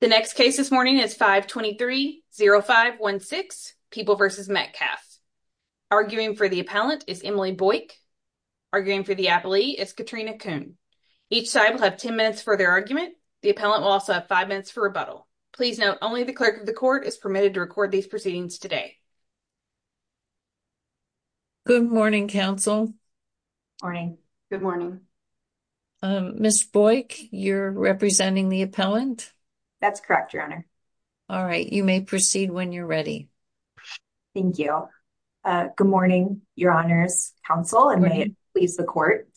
The next case this morning is 523-0516, People v. Metcalfe. Arguing for the appellant is Emily Boyk. Arguing for the appellee is Katrina Kuhn. Each side will have 10 minutes for their argument. The appellant will also have 5 minutes for rebuttal. Please note, only the clerk of the court is permitted to record these proceedings today. Good morning, counsel. Morning. Good morning. Um, Ms. Boyk, you're representing the appellant? That's correct, Your Honor. All right, you may proceed when you're ready. Thank you. Good morning, Your Honor's counsel, and may it please the court.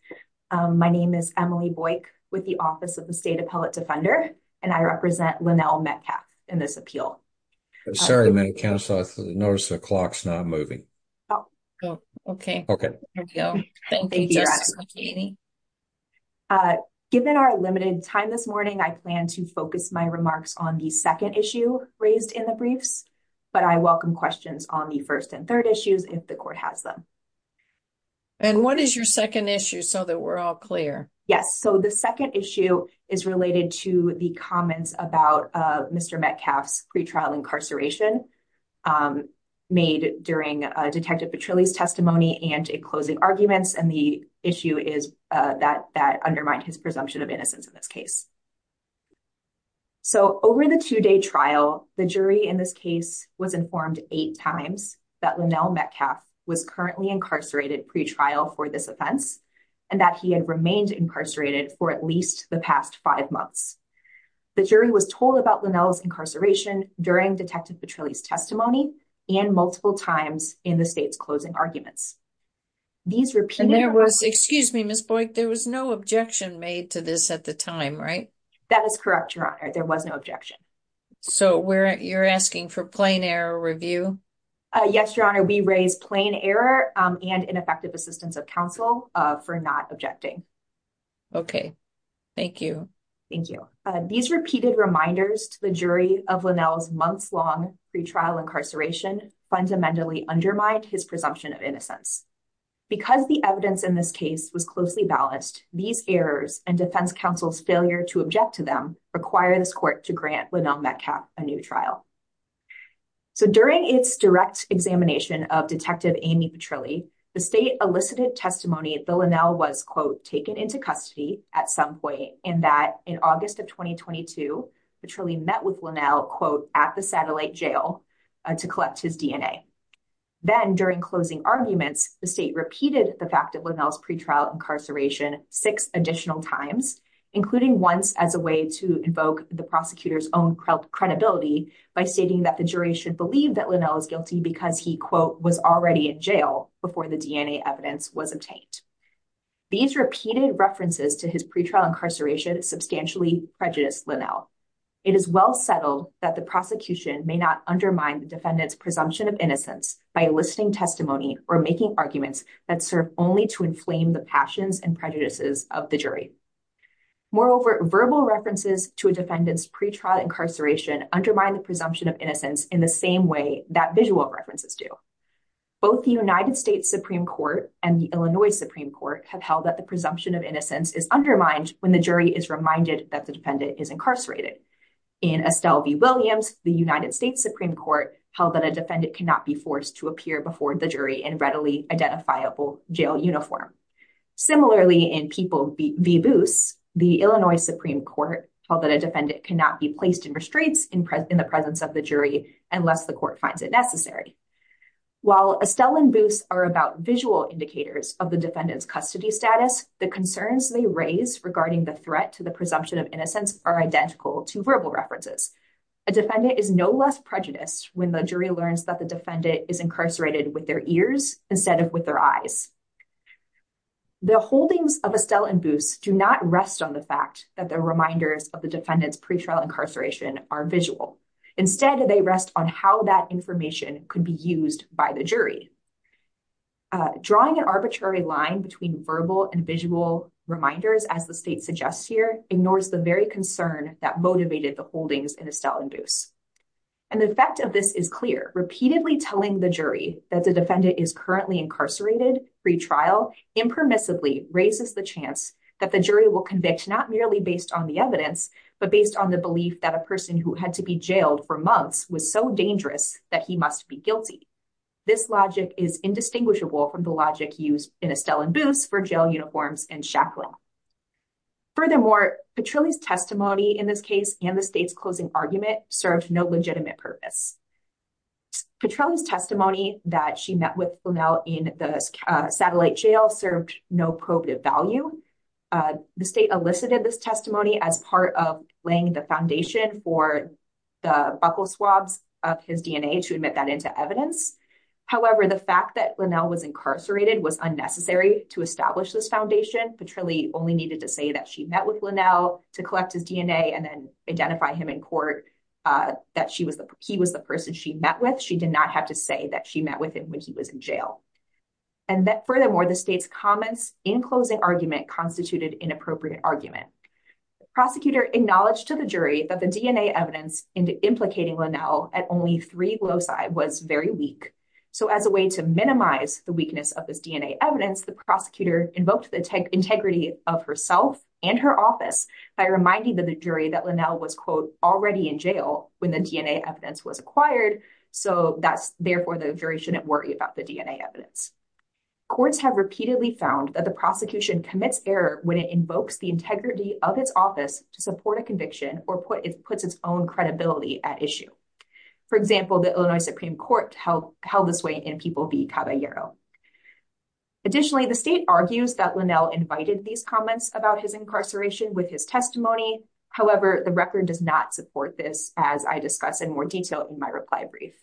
My name is Emily Boyk with the Office of the State Appellate Defender, and I represent Lynell Metcalfe in this appeal. Sorry, ma'am, counsel, I noticed the clock's not moving. Okay. Okay. There we go. Thank you, Ms. McKinney. Uh, given our limited time this morning, I plan to focus my remarks on the second issue raised in the briefs, but I welcome questions on the first and third issues if the court has them. And what is your second issue so that we're all clear? Yes, so the second issue is related to the comments about, uh, Mr. Metcalfe's pretrial incarceration, um, made during, uh, Detective Petrilli's testimony and closing arguments, and the issue is, uh, that, that undermined his presumption of innocence in this case. So over the two-day trial, the jury in this case was informed eight times that Lynell Metcalfe was currently incarcerated pretrial for this offense and that he had remained incarcerated for at least the past five months. The jury was told about Lynell's incarceration during Detective Petrilli's testimony and multiple times in the state's closing arguments. These repeated... And there was, excuse me, Ms. Boyk, there was no objection made to this at the time, right? That is correct, Your Honor, there was no objection. So we're, you're asking for plain error review? Yes, Your Honor, we raise plain error, um, and ineffective assistance of counsel, uh, for not objecting. Okay, thank you. Thank you. These repeated reminders to the jury of Lynell's months-long pretrial incarceration fundamentally undermined his presumption of innocence. Because the evidence in this case was closely balanced, these errors and defense counsel's failure to object to them require this court to grant Lynell Metcalfe a new trial. So during its direct examination of Detective Amy Petrilli, the state elicited testimony that Lynell was, quote, taken into custody at some point and that in August of 2022, Petrilli met with Lynell, quote, at the satellite jail to collect his DNA. Then during closing arguments, the state repeated the fact of Lynell's pretrial incarceration six additional times, including once as a way to invoke the prosecutor's own credibility by stating that the jury should believe that Lynell is guilty because he, quote, was already in jail before the DNA evidence was obtained. These repeated references to his pretrial incarceration substantially prejudiced Lynell. It is well settled that the prosecution may not undermine the defendant's presumption of innocence by listing testimony or making arguments that serve only to inflame the passions and prejudices of the jury. Moreover, verbal references to a defendant's pretrial incarceration undermine the presumption of innocence in the same way that visual references do. Both the United States Supreme Court and the Illinois Supreme Court have held that the presumption of innocence is undermined when the jury is reminded that the defendant is incarcerated. In Estelle v. Williams, the United States Supreme Court held that a defendant cannot be forced to appear before the jury in readily identifiable jail uniform. Similarly, in People v. Boos, the Illinois Supreme Court held that a defendant cannot be placed in restraints in the presence of the jury unless the court finds it necessary. While Estelle and Boos are about visual indicators of the defendant's custody status, the concerns they raise regarding the threat to the presumption of innocence are identical to verbal references. A defendant is no less prejudiced when the jury learns that the defendant is incarcerated with their ears instead of with their eyes. The holdings of Estelle and Boos do not rest on the fact that the reminders of the defendant's pretrial incarceration are visual. Instead, they rest on how that information could be used by the jury. Drawing an arbitrary line between verbal and visual reminders, as the state suggests here, ignores the very concern that motivated the holdings in Estelle and Boos. And the effect of this is clear. Repeatedly telling the jury that the defendant is currently incarcerated, pretrial, impermissibly raises the chance that the jury will convict not merely based on the evidence, but based on the belief that a person who had to be jailed for months was so dangerous that he must be guilty. This logic is indistinguishable from the logic used in Estelle and Boos for jail uniforms and shackling. Furthermore, Petrilli's testimony in this case and the state's closing argument served no legitimate purpose. Petrilli's testimony that she met with Linnell in the satellite jail served no probative value. The state elicited this testimony as part of laying the foundation for the buckle swabs of his DNA to admit that into evidence. However, the fact that Linnell was incarcerated was unnecessary to establish this foundation. Petrilli only needed to say that she met with Linnell to collect his DNA and then identify him in court, that he was the person she met with. She did not have to say that she met with him when he was in jail. And that furthermore, the state's comments in closing argument constituted inappropriate argument. The prosecutor acknowledged to the jury that the DNA evidence implicating Linnell at only three loci was very weak. So as a way to minimize the weakness of this DNA evidence, the prosecutor invoked the integrity of herself and her office by reminding the jury that Linnell was, quote, already in jail when the DNA evidence was acquired. So therefore, the jury shouldn't worry about the DNA evidence. Courts have repeatedly found that the prosecution commits error when it invokes the integrity of its office to support a conviction or puts its own credibility at issue. For example, the Illinois Supreme Court held this way in People v. Caballero. Additionally, the state argues that Linnell invited these comments about his incarceration with his testimony. However, the record does not support this, as I discuss in more detail in my reply brief.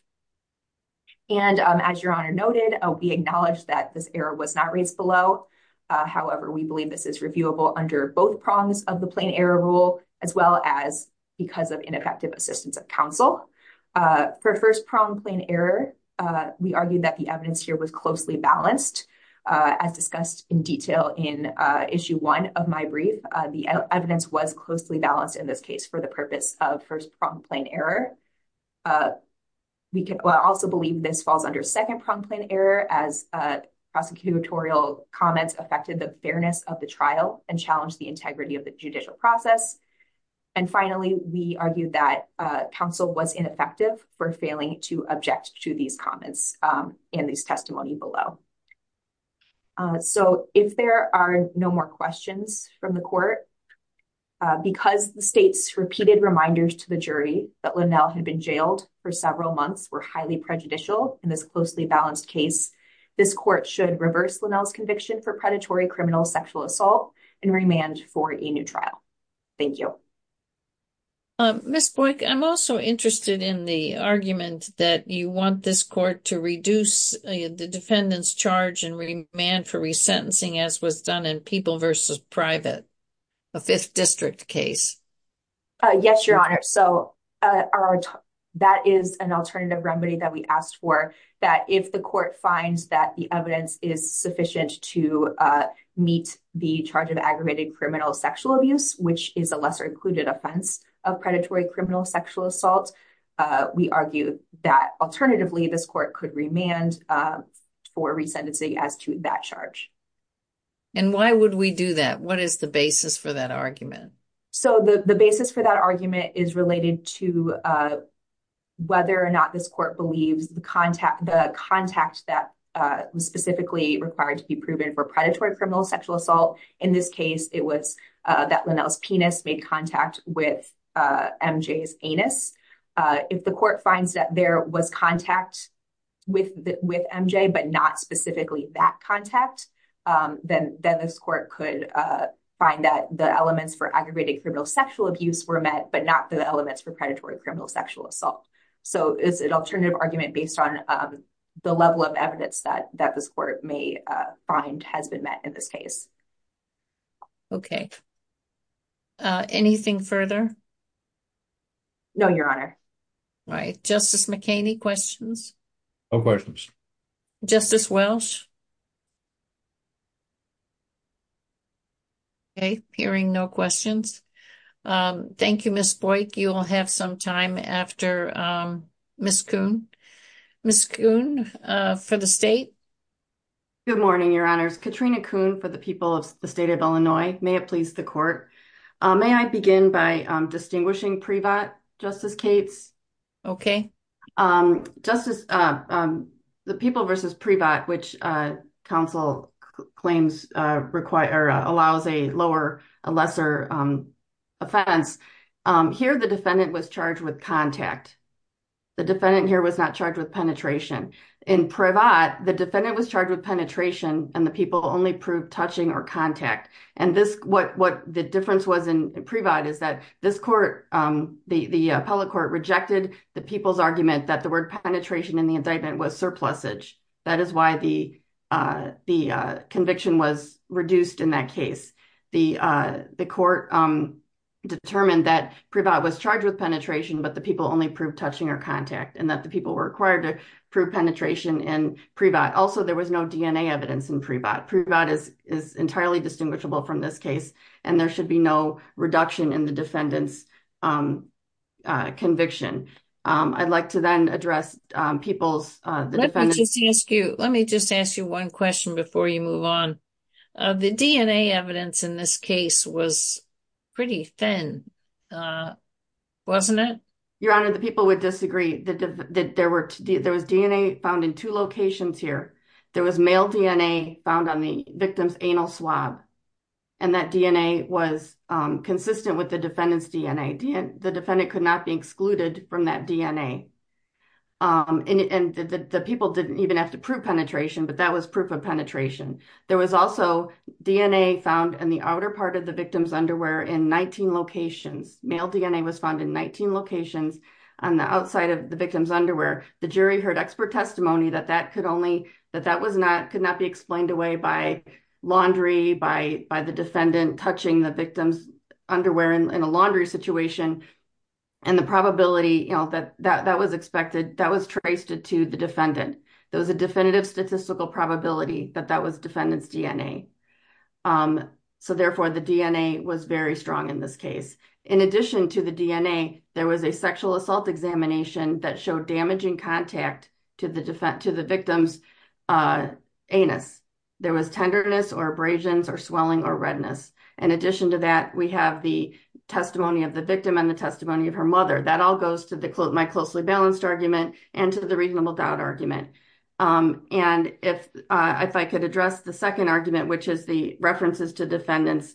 And as Your Honor noted, we acknowledge that this error was not raised below. However, we believe this is reviewable under both prongs of the plain error rule, as well as because of ineffective assistance of counsel. For first prong plain error, we argue that the evidence here was closely balanced. As discussed in detail in issue one of my brief, the evidence was closely balanced in this case for the purpose of first prong plain error. We also believe this falls under second prong plain error, as prosecutorial comments affected the fairness of the trial and challenged the integrity of the judicial process. Finally, we argue that counsel was ineffective for failing to object to these comments in this testimony below. So if there are no more questions from the court, because the state's repeated reminders to the jury that Linnell had been jailed for several months were highly prejudicial in this closely balanced case, this court should reverse Linnell's conviction for predatory criminal sexual assault and remand for a new trial. Thank you. Ms. Boyk, I'm also interested in the argument that you want this court to reduce the defendant's charge and remand for resentencing as was done in people versus private, a fifth district case. Yes, Your Honor. So that is an alternative remedy that we asked for, that if the court finds that the evidence is sufficient to meet the charge of aggravated criminal sexual abuse, which is a lesser included offense of predatory criminal sexual assault, we argue that alternatively, this court could remand for resentencing as to that charge. And why would we do that? What is the basis for that argument? So the basis for that argument is related to whether or not this court believes the contact, the contact that was specifically required to be proven for predatory criminal sexual assault. In this case, it was that Linnell's penis made contact with MJ's anus. If the court finds that there was contact with MJ, but not specifically that contact, then this court could find that the elements for aggravated criminal sexual abuse were met, but not the elements for predatory criminal sexual assault. So it's an alternative argument based on the level of evidence that this court may find has been met in this case. Okay. Anything further? No, Your Honor. All right. Justice McHaney, questions? Justice Welch? Okay. Hearing no questions. Thank you, Ms. Boyk. You will have some time after Ms. Kuhn. Ms. Kuhn for the state. Good morning, Your Honors. Katrina Kuhn for the people of the state of Illinois. May it please the court. May I begin by distinguishing pre-vot, Justice Cates? Justice, the people versus pre-vot, which counsel claims require, allows a lower, a lesser offense. Here, the defendant was charged with contact. The defendant here was not charged with penetration. In pre-vot, the defendant was charged with penetration and the people only proved touching or contact. And this, what the difference was in pre-vot is that this court, the appellate court rejected the people's argument that the word penetration in the indictment was surplusage. That is why the conviction was reduced in that case. The court determined that pre-vot was charged with penetration, but the people only proved touching or contact and that the people were required to prove penetration in pre-vot. Also, there was no DNA evidence in pre-vot. Pre-vot is entirely distinguishable from this case and there should be no reduction in the defendant's conviction. I'd like to then address people's, the defendant's- Let me just ask you, let me just ask you one question before you move on. The DNA evidence in this case was pretty thin, wasn't it? Your Honor, the people would disagree that there was DNA found in two locations here. There was male DNA found on the victim's anal swab and that DNA was consistent with the defendant's DNA. The defendant could not be excluded from that DNA and the people didn't even have to prove penetration, but that was proof of penetration. There was also DNA found in the outer part of the victim's underwear in 19 locations. Male DNA was found in 19 locations on the outside of the victim's underwear. The jury heard expert testimony that that could only, that that was not, could not be explained away by laundry, by the defendant touching the victim's underwear in a laundry situation and the probability that that was expected, that was traced to the defendant. There was a definitive statistical probability that that was defendant's DNA. Therefore, the DNA was very strong in this case. In addition to the DNA, there was a sexual assault examination that showed damaging contact to the victim's anus. There was tenderness or abrasions or swelling or redness. In addition to that, we have the testimony of the victim and the testimony of her mother. That all goes to my closely balanced argument and to the reasonable doubt argument. And if I could address the second argument, which is the references to defendant's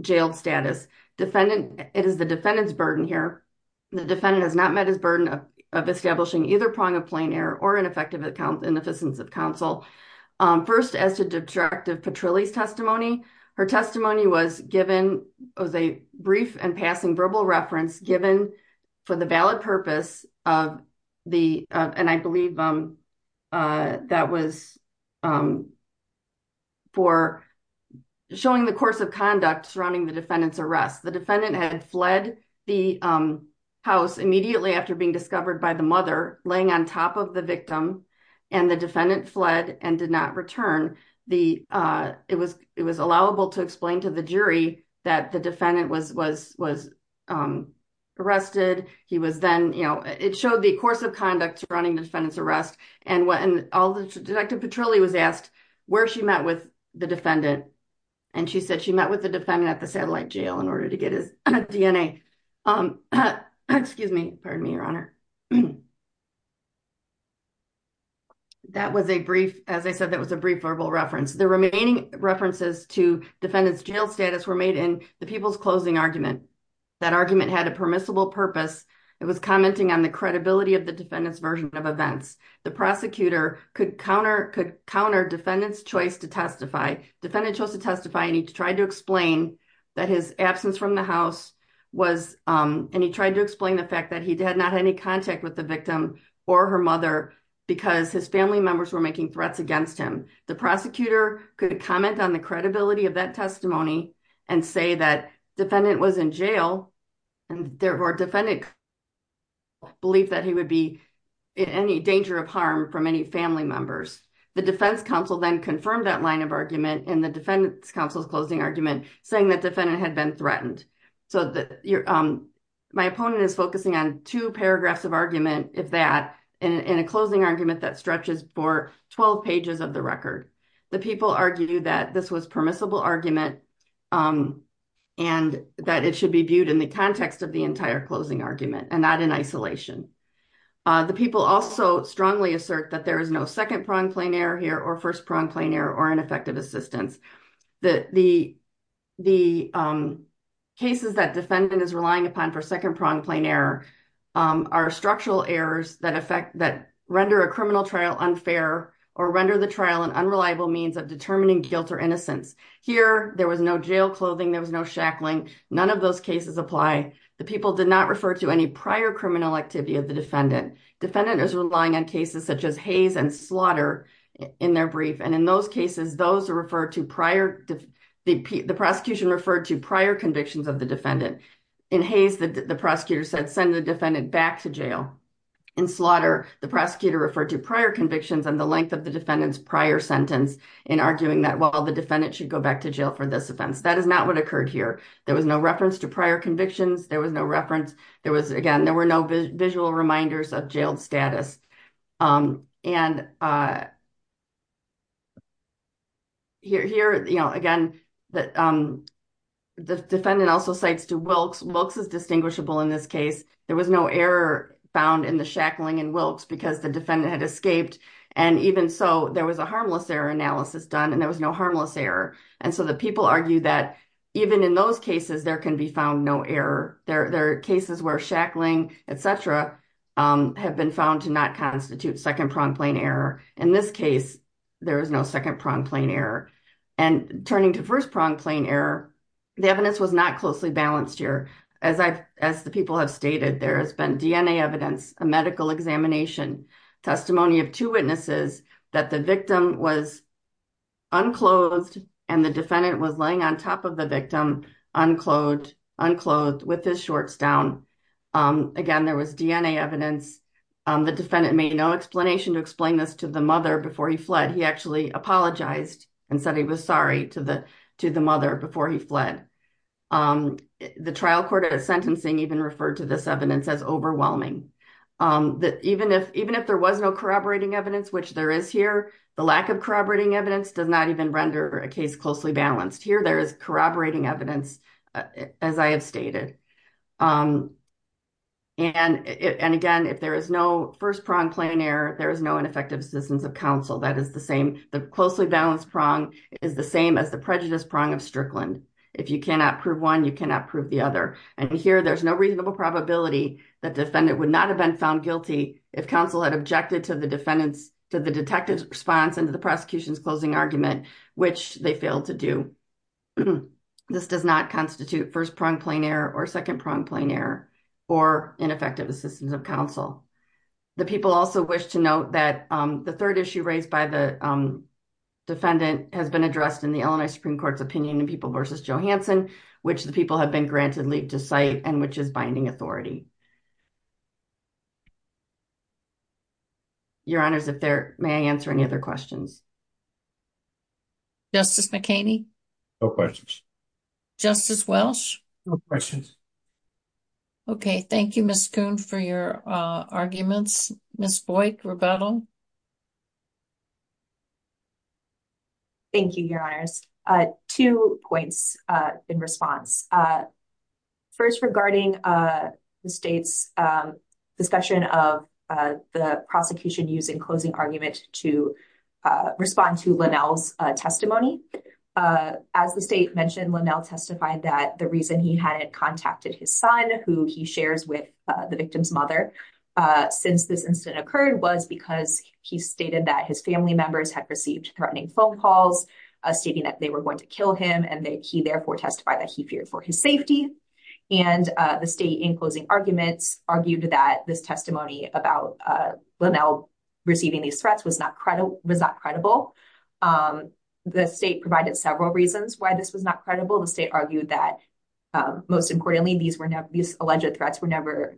jailed status, defendant, it is the defendant's burden here. The defendant has not met his burden of establishing either prong of plain error or ineffective account, inefficiency of counsel. First, as to detractive Petrilli's testimony, her testimony was given, was a brief and passing verbal reference given for the valid purpose of the, and I believe that was for showing the course of conduct surrounding the defendant's arrest. The defendant had fled the house immediately after being discovered by the mother, laying on top of the victim, and the defendant fled and did not return. It was allowable to explain to the jury that the defendant was arrested. He was then, you know, it showed the course of conduct surrounding the defendant's arrest and all the detractive Petrilli was asked where she met with the defendant. And she said she met with the defendant at the satellite jail in order to get his DNA. Excuse me, pardon me, your honor. That was a brief, as I said, that was a brief verbal reference. The remaining references to defendant's jail status were made in the people's closing argument. That argument had a permissible purpose. It was commenting on the credibility of the defendant's version of events. The prosecutor could counter defendant's choice to testify. Defendant chose to testify and he tried to explain that his absence from the house was, and he tried to explain the fact that he did not have any contact with the victim or her mother because his family members were making threats against him. The prosecutor could comment on the credibility of that testimony and say that defendant was in jail and therefore defendant believed that he would be in any danger of harm from any family members. The defense council then confirmed that line of argument in the defendant's counsel's closing argument saying that defendant had been threatened. So my opponent is focusing on two paragraphs of argument, if that, in a closing argument that stretches for 12 pages of the record. The people argue that this was permissible argument and that it should be viewed in the context of the entire closing argument and not in isolation. The people also strongly assert that there is no second pronged plain error here or first pronged plain error or ineffective assistance. The cases that defendant is relying upon for second pronged plain error are structural errors that render a criminal trial unfair or render the trial an unreliable means of determining guilt or innocence. Here there was no jail clothing. There was no shackling. None of those cases apply. The people did not refer to any prior criminal activity of the defendant. Defendant is relying on cases such as Hays and Slaughter in their brief and in those cases, the prosecution referred to prior convictions of the defendant. In Hays, the prosecutor said send the defendant back to jail. In Slaughter, the prosecutor referred to prior convictions and the length of the defendant's prior sentence in arguing that while the defendant should go back to jail for this is not what occurred here. There was no reference to prior convictions. There was no reference. There was again, there were no visual reminders of jailed status. And here again, the defendant also cites to Wilkes. Wilkes is distinguishable in this case. There was no error found in the shackling in Wilkes because the defendant had escaped. And even so, there was a harmless error analysis done and there was no harmless error. And so, the people argue that even in those cases, there can be found no error. There are cases where shackling, et cetera, have been found to not constitute second-pronged plane error. In this case, there is no second-pronged plane error. And turning to first-pronged plane error, the evidence was not closely balanced here. As the people have stated, there has been DNA evidence, a medical examination, testimony of two witnesses that the victim was unclosed and the defendant was laying on top of the victim unclothed with his shorts down. Again, there was DNA evidence. The defendant made no explanation to explain this to the mother before he fled. He actually apologized and said he was sorry to the mother before he fled. The trial court sentencing even referred to this evidence as overwhelming. Even if there was no corroborating evidence, which there is here, the lack of corroborating evidence does not even render a case closely balanced. Here, there is corroborating evidence, as I have stated. And again, if there is no first-pronged plane error, there is no ineffective assistance of counsel. That is the same. The closely balanced prong is the same as the prejudice prong of Strickland. If you cannot prove one, you cannot prove the other. And here, there is no reasonable probability that the defendant would not have been found guilty if counsel had objected to the defendant's, to the detective's response into the prosecution's closing argument, which they failed to do. This does not constitute first-pronged plane error or second-pronged plane error or ineffective assistance of counsel. The people also wish to note that the third issue raised by the defendant has been addressed in the Illinois Supreme Court's opinion in People v. Johanson, which the people have been granted leave to cite and which is not. Your Honors, may I answer any other questions? Justice McKinney? No questions. Justice Welsh? No questions. Okay. Thank you, Ms. Kuhn, for your arguments. Ms. Boyk, rebuttal? Thank you, Your Honors. Two points in response. First, regarding the state's discussion of the prosecution using closing argument to respond to Linnell's testimony. As the state mentioned, Linnell testified that the reason he hadn't contacted his son, who he shares with the victim's mother, since this incident occurred was because he stated that his family members had received threatening phone calls stating that they were going to kill him and that he, therefore, testified that he feared for his safety. And the state in closing arguments argued that this testimony about Linnell receiving these threats was not credible. The state provided several reasons why this was not credible. The state argued that, most importantly, these alleged threats were never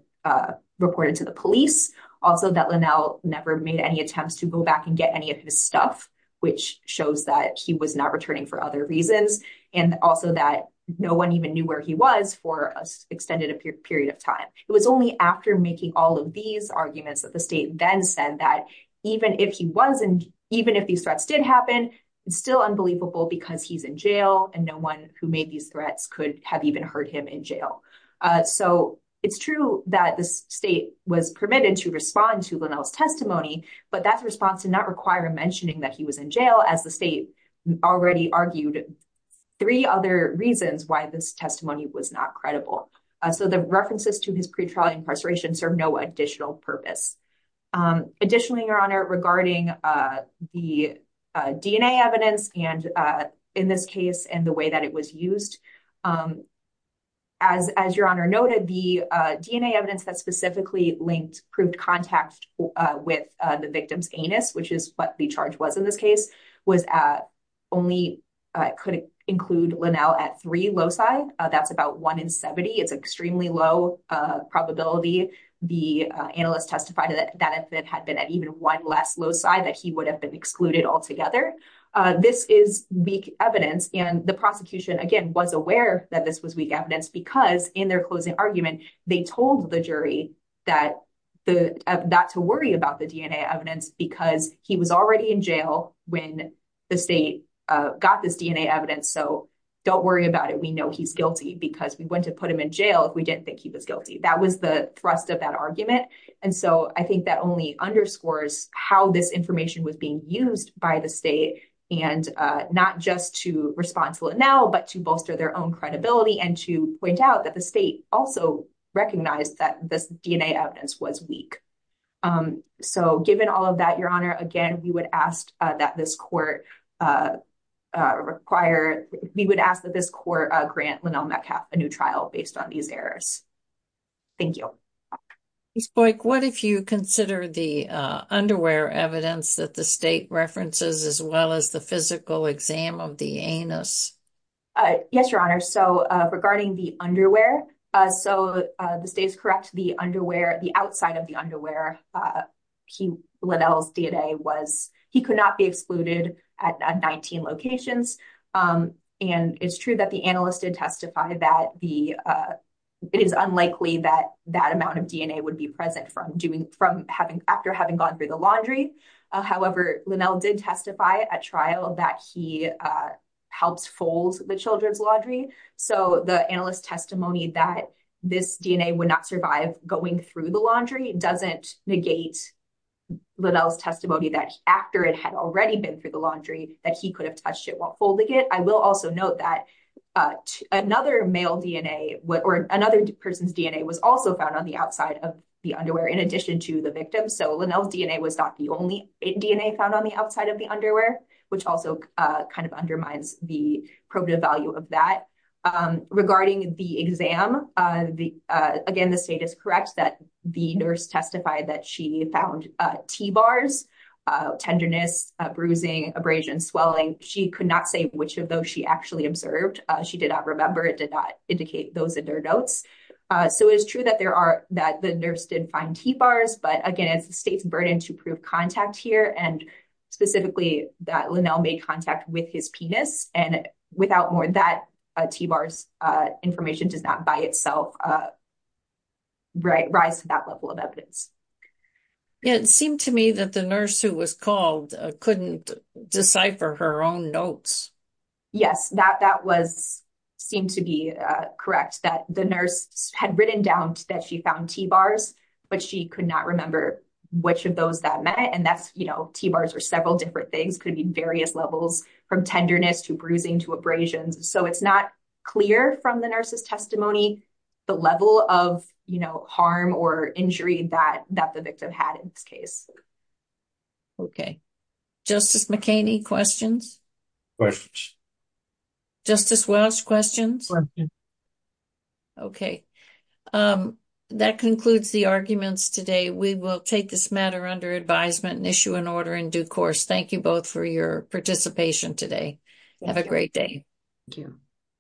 reported to the police. Also, that Linnell never made any attempts to go back and get any of his stuff, which shows that he was not returning for other reasons, and also that no one even knew where he was for an extended period of time. It was only after making all of these arguments that the state then said that even if these threats did happen, it's still unbelievable because he's in jail and no one who made these threats could have even heard him in jail. So it's true that the state was permitted to respond to Linnell's testimony, but that response did not require mentioning that he was in jail, as the state already argued three other reasons why this testimony was not credible. So the references to his pretrial incarceration serve no additional purpose. Additionally, Your Honor, regarding the DNA evidence in this case and the way that it was used, as Your Honor noted, the DNA evidence that specifically linked, proved contact with the victim's anus, which is what the charge was in this case, could only include Linnell at three loci. That's about one in 70. It's extremely low probability. The analyst testified that if it had been at even one less loci, that he would have been excluded altogether. This is weak evidence, and the prosecution, again, was aware that this was weak evidence because in their closing argument, they told the jury not to worry about the DNA evidence because he was already in jail when the state got this DNA evidence. So don't worry about it. We know he's guilty because we wouldn't have put him in jail if we didn't think he was guilty. That was the thrust of that argument. And so I think that only underscores how this information was being used by the state, and not just to respond to Linnell, but to bolster their own credibility and to point out that the state also recognized that this DNA evidence was weak. So given all of that, Your Honor, again, we would ask that this court grant Linnell Metcalf a new trial based on these errors. Thank you. Ms. Boyk, what if you consider the underwear evidence that the state references as well as the physical exam of the anus? Yes, Your Honor. So regarding the underwear, so the state is correct, the outside of the underwear, Linnell's DNA, he could not be excluded at 19 locations. And it's true that the analyst did testify that it is unlikely that that amount of DNA would be present after having gone through the laundry. However, Linnell did testify at trial that he helps fold the children's laundry. So the analyst's testimony that this DNA would not survive going through the laundry doesn't negate Linnell's testimony that after it had already been through the laundry, that he could have touched it while folding it. I will also note that another male DNA or another person's DNA was also found on the outside of the underwear in addition to the victim. So Linnell's DNA was not the only DNA found on the outside of the underwear, which also kind of undermines the probative value of that. Regarding the exam, again, the state is correct that the nurse testified that she found T-bars, tenderness, bruising, abrasion, swelling. She could not say which of those she actually observed. She did not remember. It did not indicate those in her notes. So it is true that the nurse did find T-bars. But again, it's the state's burden to prove contact here and specifically that Linnell made contact with his penis. And without more of that, T-bars information does not by itself rise to that level of evidence. It seemed to me that the nurse who was called couldn't decipher her own notes. Yes, that seemed to be correct, that the nurse had written down that she found T-bars, but she could not remember which of those that meant. And that's, you know, T-bars are several different things, could be various levels from tenderness to bruising to abrasions. So it's not clear from the nurse's testimony the level of, you know, harm or injury that the victim had in this case. Okay. Justice McKinney, questions? Questions. Justice Welch, questions? Questions. Okay. That concludes the arguments today. We will take this matter under advisement and issue an order in due course. Thank you both for your participation today. Have a great day. Thank you.